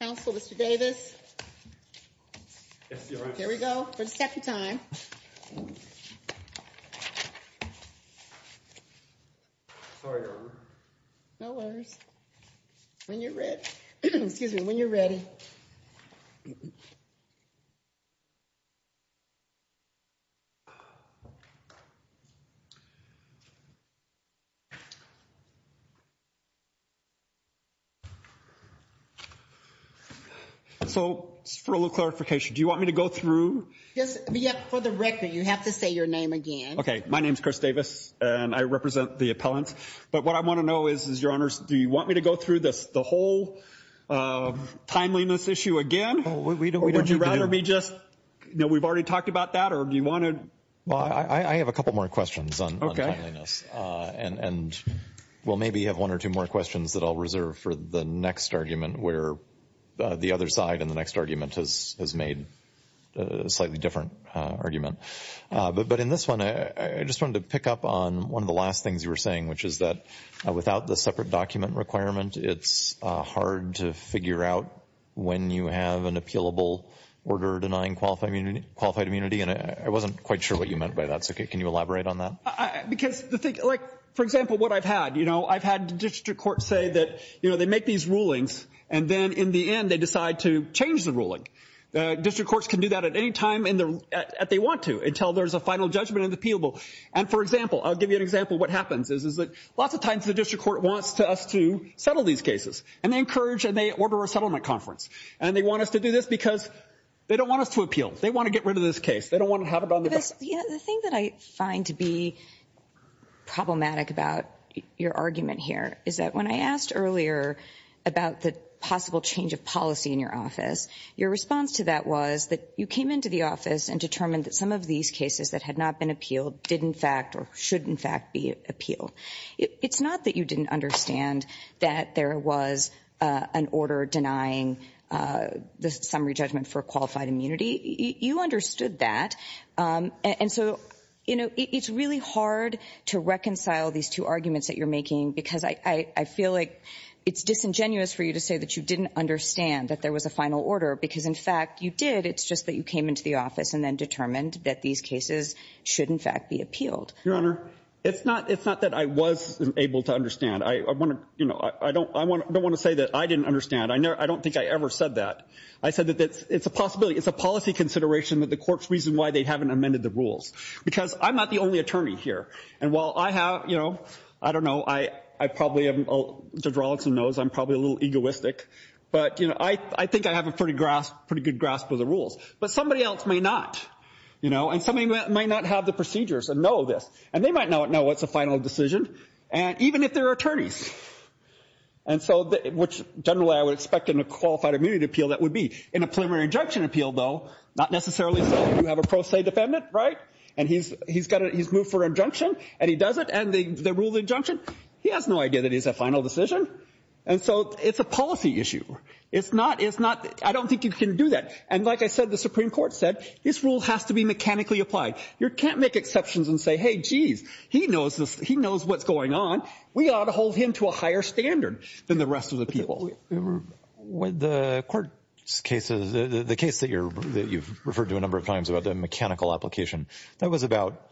Council, Mr Davis. Here we go for the 2nd time. Sorry, no worries. When you're ready, excuse me when you're ready. Okay, so for a little clarification, do you want me to go through this yet for the record, you have to say your name again. Okay. My name is Chris Davis and I represent the appellant, but what I want to know is, is your honors. Do you want me to go through this the whole time? On the timeliness issue again, would you rather me just, you know, we've already talked about that or do you want to? Well, I have a couple more questions on timeliness and we'll maybe have one or two more questions that I'll reserve for the next argument where the other side and the next argument has made a slightly different argument. But in this one, I just wanted to pick up on one of the last things you were saying, which is that without the separate document requirement, it's hard to figure out when you have an appealable order denying qualified immunity. And I wasn't quite sure what you meant by that. So can you elaborate on that? Because the thing, like, for example, what I've had, you know, I've had district courts say that, you know, they make these rulings and then in the end they decide to change the ruling. District courts can do that at any time that they want to until there's a final judgment in the appealable. And for example, I'll give you an example of what happens is that lots of times the district court wants us to settle these cases. And they encourage and they order a settlement conference. And they want us to do this because they don't want us to appeal. They want to get rid of this case. They don't want to have it on their back. The thing that I find to be problematic about your argument here is that when I asked earlier about the possible change of policy in your office, your response to that was that you came into the office and determined that some of these cases that had not been appealed did in fact or should in fact be appealed. It's not that you didn't understand that there was an order denying the summary judgment for qualified immunity. You understood that. And so, you know, it's really hard to reconcile these two arguments that you're making because I feel like it's disingenuous for you to say that you didn't understand that there was a final order because in fact you did. It's just that you came into the office and then determined that these cases should in fact be appealed. Your Honor, it's not that I was able to understand. I don't want to say that I didn't understand. I don't think I ever said that. I said that it's a possibility. It's a policy consideration that the courts reason why they haven't amended the rules. Because I'm not the only attorney here. And while I have, you know, I don't know, Judge Rawlinson knows I'm probably a little egoistic, but I think I have a pretty good grasp of the rules. But somebody else may not. And somebody might not have the procedures and know this. And they might not know it's a final decision, even if they're attorneys. And so, which generally I would expect in a qualified immunity appeal that would be. In a preliminary injunction appeal, though, not necessarily so. You have a pro se defendant, right? And he's moved for injunction and he does it. And the rule of injunction, he has no idea that it's a final decision. And so it's a policy issue. It's not. It's not. I don't think you can do that. And like I said, the Supreme Court said this rule has to be mechanically applied. You can't make exceptions and say, hey, geez, he knows this. He knows what's going on. We ought to hold him to a higher standard than the rest of the people. So the court's case, the case that you've referred to a number of times about the mechanical application, that was about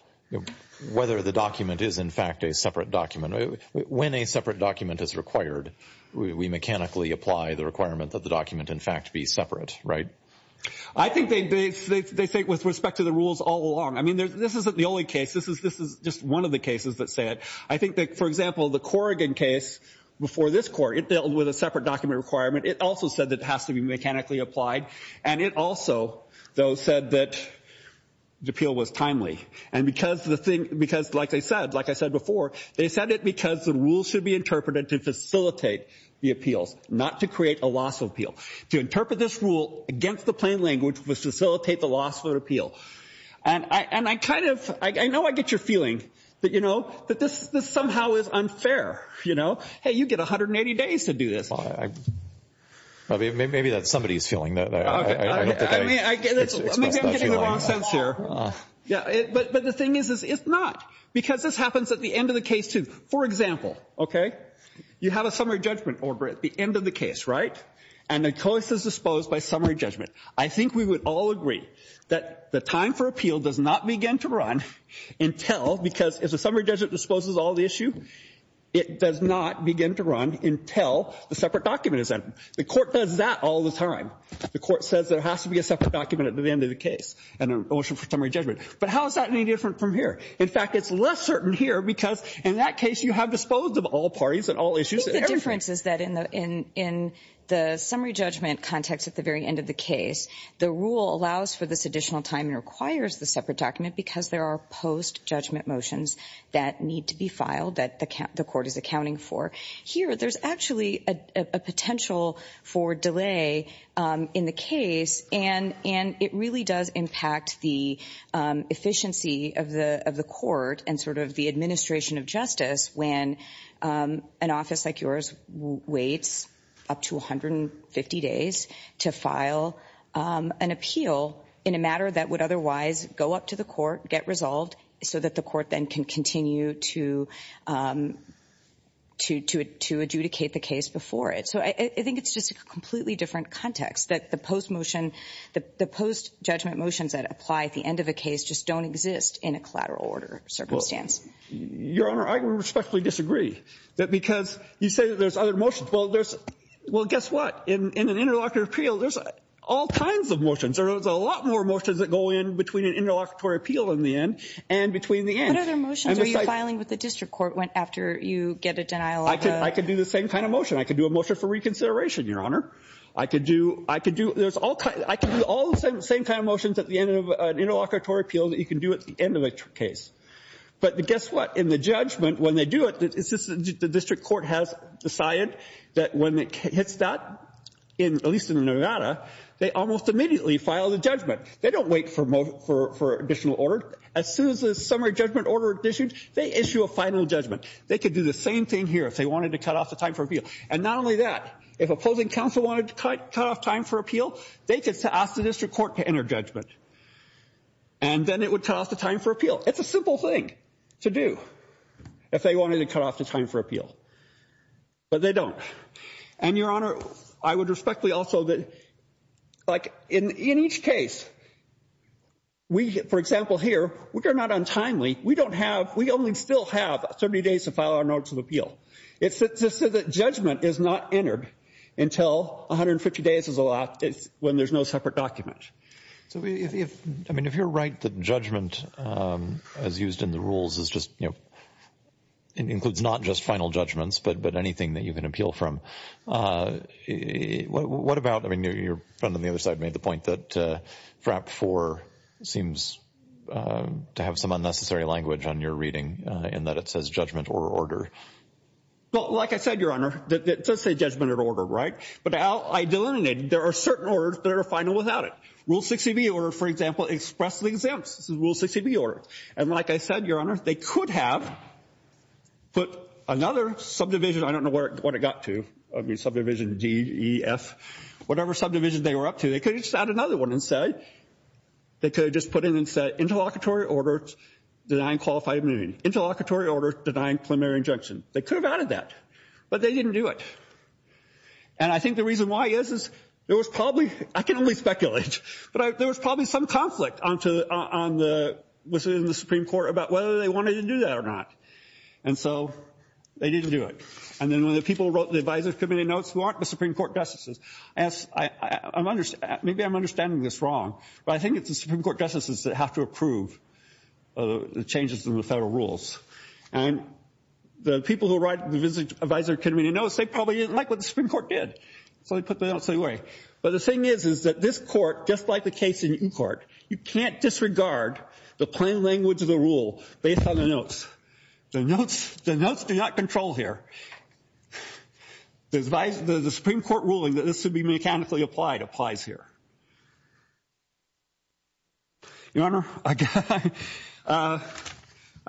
whether the document is, in fact, a separate document. When a separate document is required, we mechanically apply the requirement that the document, in fact, be separate, right? I think they say with respect to the rules all along. I mean, this isn't the only case. This is just one of the cases that say it. I think that, for example, the Corrigan case before this court, it dealt with a separate document requirement. It also said that it has to be mechanically applied. And it also, though, said that the appeal was timely. And because, like I said before, they said it because the rules should be interpreted to facilitate the appeals, not to create a loss of appeal. To interpret this rule against the plain language would facilitate the loss of appeal. And I kind of, I know I get your feeling that this somehow is unfair. Hey, you get 180 days to do this. Well, maybe that's somebody's feeling. I don't know. I mean, maybe I'm getting the wrong sense here. But the thing is, it's not. Because this happens at the end of the case, too. For example, okay, you have a summary judgment order at the end of the case, right? And the choice is disposed by summary judgment. I think we would all agree that the time for appeal does not begin to run until, because if the summary judgment disposes all of the issue, it does not begin to run until the separate document is entered. The court does that all the time. The court says there has to be a separate document at the end of the case and an ocean for summary judgment. But how is that any different from here? In fact, it's less certain here because in that case you have disposed of all parties and all issues. I think the difference is that in the summary judgment context at the very end of the case, the rule allows for this additional time and requires the separate document because there are post-judgment motions that need to be filed that the court is accounting for. Here, there's actually a potential for delay in the case, and it really does impact the efficiency of the court and sort of the administration of justice when an office like yours waits up to 150 days to file an appeal in a matter that would otherwise go up to the court, get resolved, so that the court then can continue to adjudicate the case before it. So I think it's just a completely different context, that the post-judgment motions that apply at the end of a case just don't exist in a collateral order circumstance. Your Honor, I respectfully disagree because you say there's other motions. Well, guess what? In an interlocutory appeal, there's all kinds of motions. There's a lot more motions that go in between an interlocutory appeal in the end and between the end. What other motions are you filing with the district court after you get a denial of the… I could do the same kind of motion. I could do a motion for reconsideration, Your Honor. I could do all the same kind of motions at the end of an interlocutory appeal that you can do at the end of a case. But guess what? In the judgment, when they do it, the district court has decided that when it hits that, at least in Nevada, they almost immediately file the judgment. They don't wait for additional order. As soon as the summary judgment order is issued, they issue a final judgment. They could do the same thing here if they wanted to cut off the time for appeal. And not only that, if opposing counsel wanted to cut off time for appeal, they could ask the district court to enter judgment. And then it would cut off the time for appeal. It's a simple thing to do if they wanted to cut off the time for appeal. But they don't. And, Your Honor, I would respectfully also that, like, in each case, we, for example, here, we are not untimely. We don't have – we only still have 70 days to file our notice of appeal. It's just that judgment is not entered until 150 days is allowed when there's no separate document. So if – I mean, if you're right that judgment as used in the rules is just – it includes not just final judgments but anything that you can appeal from, what about – I mean, your friend on the other side made the point that FRAP 4 seems to have some unnecessary language on your reading in that it says judgment or order. Well, like I said, Your Honor, it does say judgment or order, right? But I delineated. There are certain orders that are final without it. Rule 60B order, for example, expressly exempts. This is Rule 60B order. And like I said, Your Honor, they could have put another subdivision – I don't know what it got to. I mean, subdivision D, E, F, whatever subdivision they were up to. They could have just added another one and said – they could have just put in and said interlocutory order denying qualified immunity. Interlocutory order denying preliminary injunction. They could have added that. But they didn't do it. And I think the reason why is, is there was probably – I can only speculate, but there was probably some conflict on the – within the Supreme Court about whether they wanted to do that or not. And so they didn't do it. And then when the people wrote the advisory committee notes who aren't the Supreme Court justices – maybe I'm understanding this wrong, but I think it's the Supreme Court justices that have to approve the changes in the federal rules. And the people who write the advisory committee notes, they probably didn't like what the Supreme Court did. So they put the notes away. But the thing is, is that this court, just like the case in court, you can't disregard the plain language of the rule based on the notes. The notes do not control here. The Supreme Court ruling that this should be mechanically applied applies here. Your Honor, I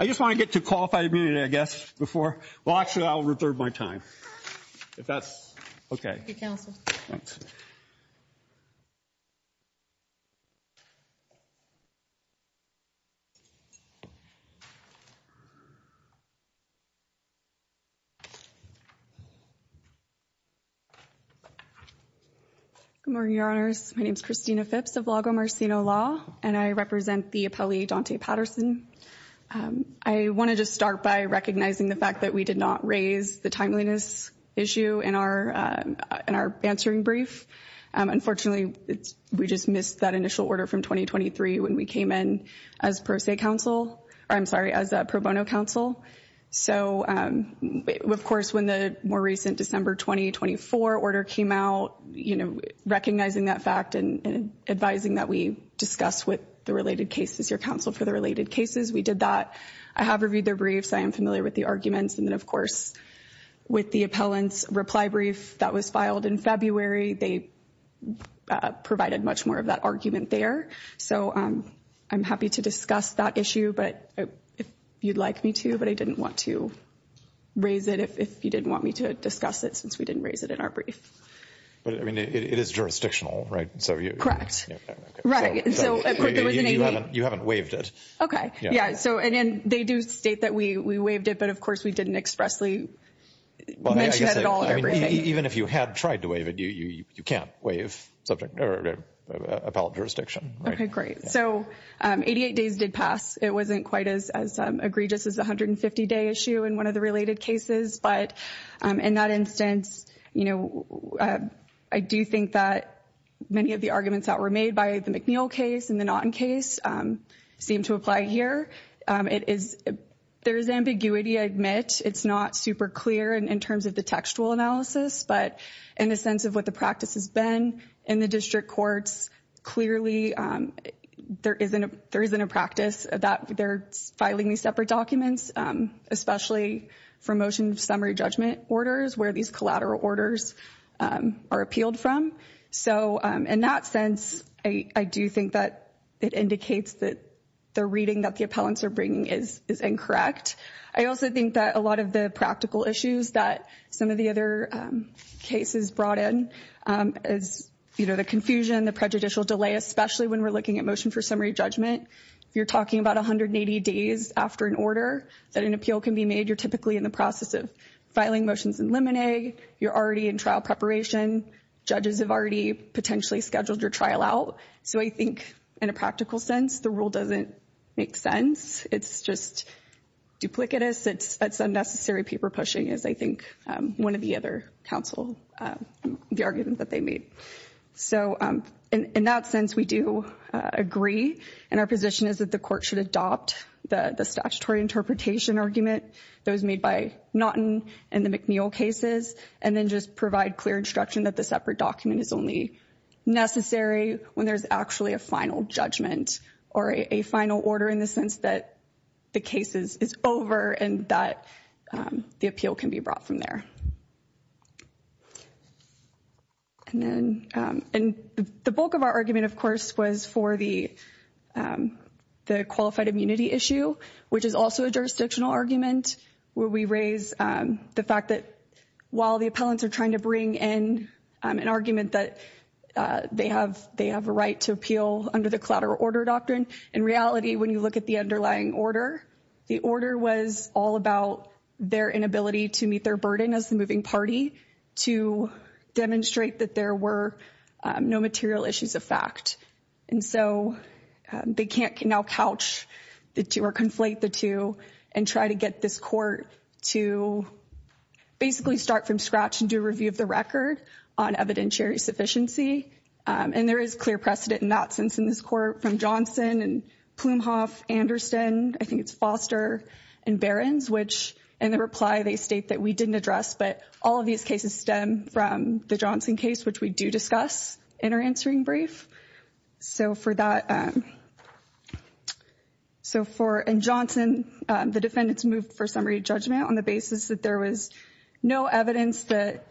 just want to get to qualified immunity, I guess, before – well, actually, I'll reserve my time if that's okay. Thank you, counsel. Thanks. Good morning, Your Honors. My name is Christina Phipps of Lago Marcino Law, and I represent the appellee, Daunte Patterson. I want to just start by recognizing the fact that we did not raise the timeliness issue in our answering brief. Unfortunately, we just missed that initial order from 2023 when we came in as pro se counsel – I'm sorry, as pro bono counsel. So, of course, when the more recent December 2024 order came out, recognizing that fact and advising that we discuss with the related cases, your counsel, for the related cases, we did that. I have reviewed their briefs. I am familiar with the arguments. And then, of course, with the appellant's reply brief that was filed in February, they provided much more of that argument there. So, I'm happy to discuss that issue if you'd like me to, but I didn't want to raise it if you didn't want me to discuss it since we didn't raise it in our brief. But, I mean, it is jurisdictional, right? Correct. Right. So, you haven't waived it. Okay. Yeah. And they do state that we waived it, but, of course, we didn't expressly mention it at all in our briefing. Even if you had tried to waive it, you can't waive appellate jurisdiction. Okay, great. So, 88 days did pass. It wasn't quite as egregious as the 150-day issue in one of the related cases. But, in that instance, you know, I do think that many of the arguments that were made by the McNeil case and the Naughton case seem to apply here. There is ambiguity, I admit. It's not super clear in terms of the textual analysis, but in the sense of what the practice has been in the district courts, clearly there isn't a practice that they're filing these separate documents, especially for motion of summary judgment orders where these collateral orders are appealed from. So, in that sense, I do think that it indicates that the reading that the appellants are bringing is incorrect. I also think that a lot of the practical issues that some of the other cases brought in is, you know, the confusion, the prejudicial delay, especially when we're looking at motion for summary judgment. If you're talking about 180 days after an order that an appeal can be made, you're typically in the process of filing motions in limine. You're already in trial preparation. Judges have already potentially scheduled your trial out. So, I think in a practical sense, the rule doesn't make sense. It's just duplicitous. It's unnecessary paper pushing, as I think one of the other counsel, the argument that they made. So, in that sense, we do agree, and our position is that the court should adopt the statutory interpretation argument that was made by Naughton and the McNeil cases and then just provide clear instruction that the separate document is only necessary when there's actually a final judgment or a final order in the sense that the case is over and that the appeal can be brought from there. The bulk of our argument, of course, was for the qualified immunity issue, which is also a jurisdictional argument, where we raise the fact that while the appellants are trying to bring in an argument that they have a right to appeal under the collateral order doctrine, in reality, when you look at the underlying order, the order was all about their inability to meet their burden as the moving party to demonstrate that there were no material issues of fact. And so they can't now couch or conflate the two and try to get this court to basically start from scratch and do a review of the record on evidentiary sufficiency. And there is clear precedent in that sense in this court from Johnson and Plumhoff, Anderson, I think it's Foster, and Behrens, which in the reply they state that we didn't address, but all of these cases stem from the Johnson case, which we do discuss in our answering brief. So for that, so for Johnson, the defendants moved for summary judgment on the basis that there was no evidence that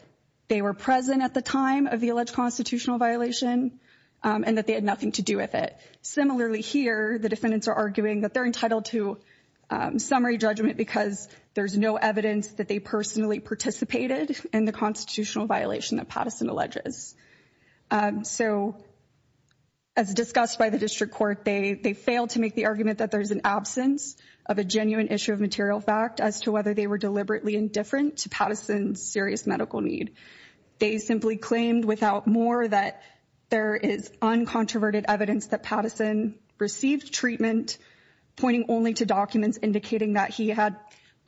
they were present at the time of the alleged constitutional violation and that they had nothing to do with it. Similarly, here, the defendants are arguing that they're entitled to summary judgment because there's no evidence that they personally participated in the constitutional violation that Pattison alleges. So as discussed by the district court, they failed to make the argument that there is an absence of a genuine issue of material fact as to whether they were deliberately indifferent to Pattison's serious medical need. They simply claimed without more that there is uncontroverted evidence that Pattison received treatment, pointing only to documents indicating that he had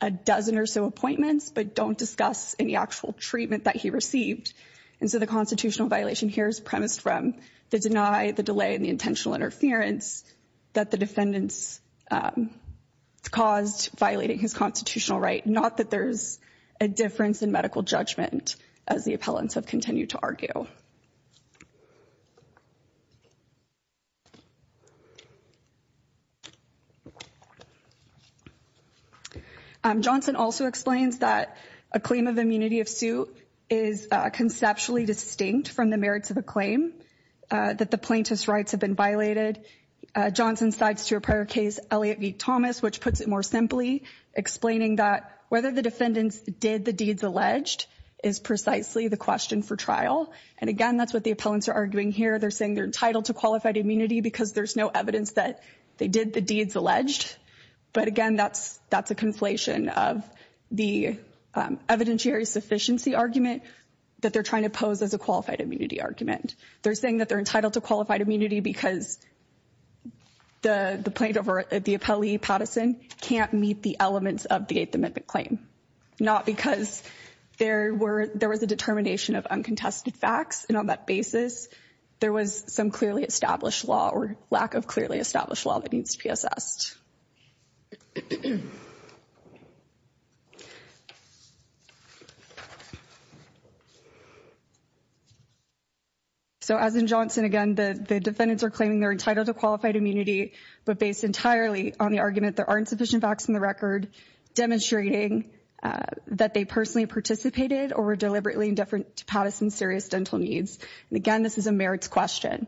a dozen or so appointments, but don't discuss any actual treatment that he received. And so the constitutional violation here is premised from the deny, the delay, and the intentional interference that the defendants caused violating his constitutional right, not that there's a difference in medical judgment, as the appellants have continued to argue. Johnson also explains that a claim of immunity of suit is conceptually distinct from the merits of a claim that the plaintiff's rights have been violated. Johnson sides to a prior case, Elliott v. Thomas, which puts it more simply, explaining that whether the defendants did the deeds alleged is precisely the question for trial. And again, that's what the appellants are arguing here. They're saying they're entitled to qualified immunity because there's no evidence that they did the deeds alleged. But again, that's a conflation of the evidentiary sufficiency argument that they're trying to pose as a qualified immunity argument. They're saying that they're entitled to qualified immunity because the plaintiff or the appellee, Patterson, can't meet the elements of the Eighth Amendment claim. Not because there was a determination of uncontested facts, and on that basis, there was some clearly established law or lack of clearly established law that needs to be assessed. So as in Johnson, again, the defendants are claiming they're entitled to qualified immunity. But based entirely on the argument, there aren't sufficient facts in the record demonstrating that they personally participated or were deliberately indifferent to Patterson's serious dental needs. And again, this is a merits question.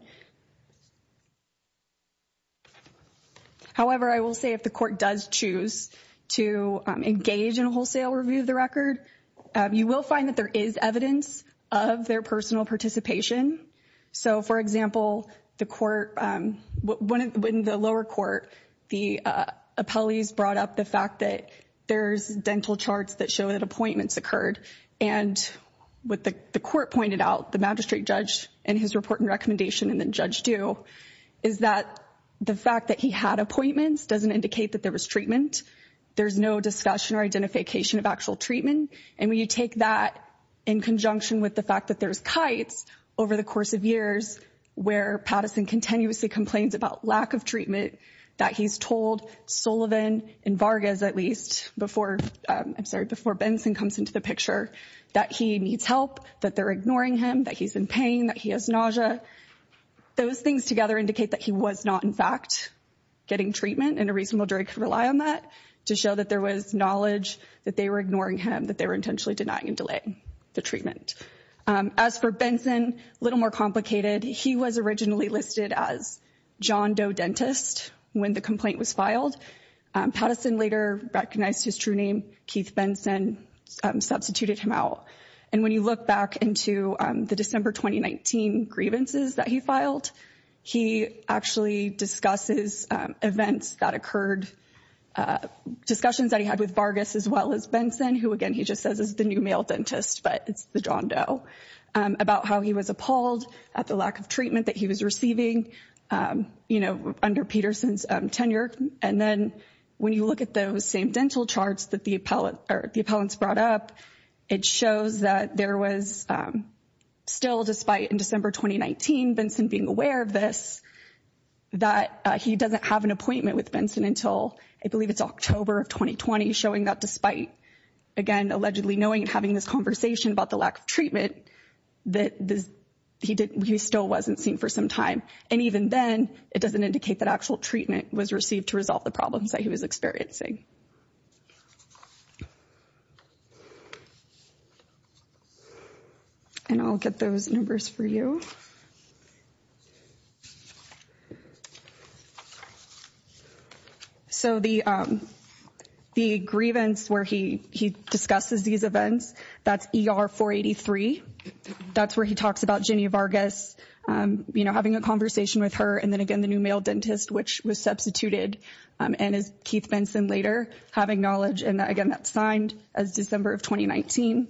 However, I will say if the court does choose to engage in a wholesale review of the record, you will find that there is evidence of their personal participation. So, for example, the court, when the lower court, the appellees brought up the fact that there's dental charts that show that appointments occurred. And what the court pointed out, the magistrate judge and his report and recommendation, and then Judge Due, is that the fact that he had appointments doesn't indicate that there was treatment. There's no discussion or identification of actual treatment. And when you take that in conjunction with the fact that there's kites over the course of years, where Patterson continuously complains about lack of treatment, that he's told Sullivan and Vargas, at least, before Benson comes into the picture, that he needs help, that they're ignoring him, that he's in pain, that he has nausea. Those things together indicate that he was not, in fact, getting treatment. And a reasonable jury could rely on that to show that there was knowledge that they were ignoring him, that they were intentionally denying and delaying the treatment. As for Benson, a little more complicated. He was originally listed as John Doe Dentist when the complaint was filed. Patterson later recognized his true name, Keith Benson, substituted him out. And when you look back into the December 2019 grievances that he filed, he actually discusses events that occurred, discussions that he had with Vargas as well as Benson, who, again, he just says is the new male dentist, but it's the John Doe, about how he was appalled at the lack of treatment that he was receiving, you know, under Peterson's tenure. And then when you look at those same dental charts that the appellants brought up, it shows that there was still, despite in December 2019, Benson being aware of this, that he doesn't have an appointment with Benson until, I believe it's October of 2020, showing that despite, again, allegedly knowing and having this conversation about the lack of treatment, that he still wasn't seen for some time. And even then, it doesn't indicate that actual treatment was received to resolve the problems that he was experiencing. And I'll get those numbers for you. So the grievance where he discusses these events, that's ER 483. That's where he talks about Ginny Vargas, you know, having a conversation with her. And then, again, the new male dentist, which was substituted, and is Keith Benson later having knowledge. And again, that's signed as December of 2019.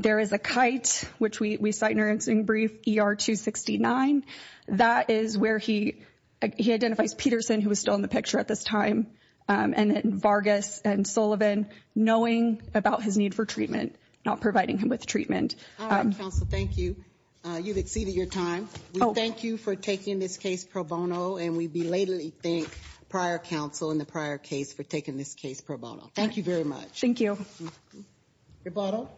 There is a kite, which we cite in our incident brief, ER 269. That is where he identifies Peterson, who is still in the picture at this time, and then Vargas and Sullivan, knowing about his need for treatment, not providing him with treatment. All right, counsel, thank you. You've exceeded your time. We thank you for taking this case pro bono, and we belatedly thank prior counsel and the prior case for taking this case pro bono. Thank you very much. Thank you. Your bottle.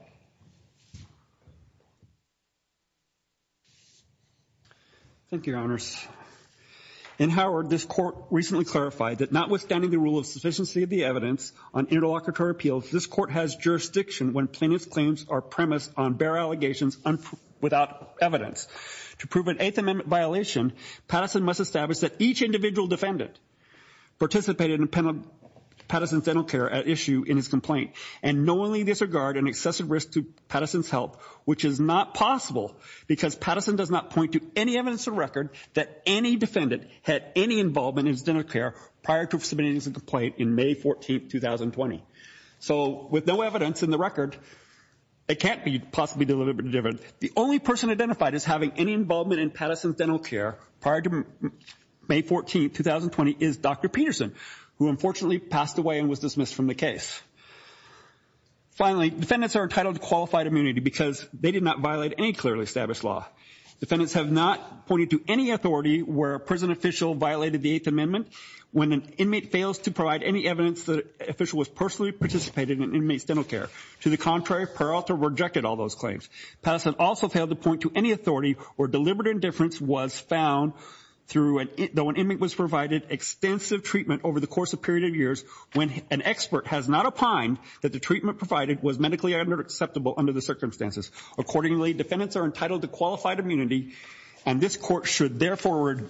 Thank you, Your Honors. In Howard, this court recently clarified that notwithstanding the rule of sufficiency of the evidence on interlocutory appeals, this court has jurisdiction when plaintiff's claims are premised on bare allegations without evidence. To prove an Eighth Amendment violation, Patterson must establish that each individual defendant participated in Patterson's dental care at issue in his complaint, and knowingly disregard an excessive risk to Patterson's health, which is not possible, because Patterson does not point to any evidence of record that any defendant had any involvement in his dental care prior to submitting his complaint in May 14, 2020. So with no evidence in the record, it can't be possibly deliberate. The only person identified as having any involvement in Patterson's dental care prior to May 14, 2020, is Dr. Peterson, who unfortunately passed away and was dismissed from the case. Finally, defendants are entitled to qualified immunity because they did not violate any clearly established law. Defendants have not pointed to any authority where a prison official violated the Eighth Amendment when an inmate fails to provide any evidence that an official was personally participating in an inmate's dental care. To the contrary, Peralta rejected all those claims. Patterson also failed to point to any authority where deliberate indifference was found though an inmate was provided extensive treatment over the course of a period of years when an expert has not opined that the treatment provided was medically unacceptable under the circumstances. Accordingly, defendants are entitled to qualified immunity, and this Court should therefore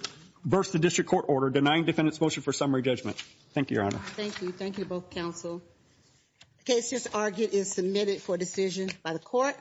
reverse the District Court order denying defendants' motion for summary judgment. Thank you, Your Honor. Thank you. Thank you both, Counsel. The case is argued and submitted for decision by the Court.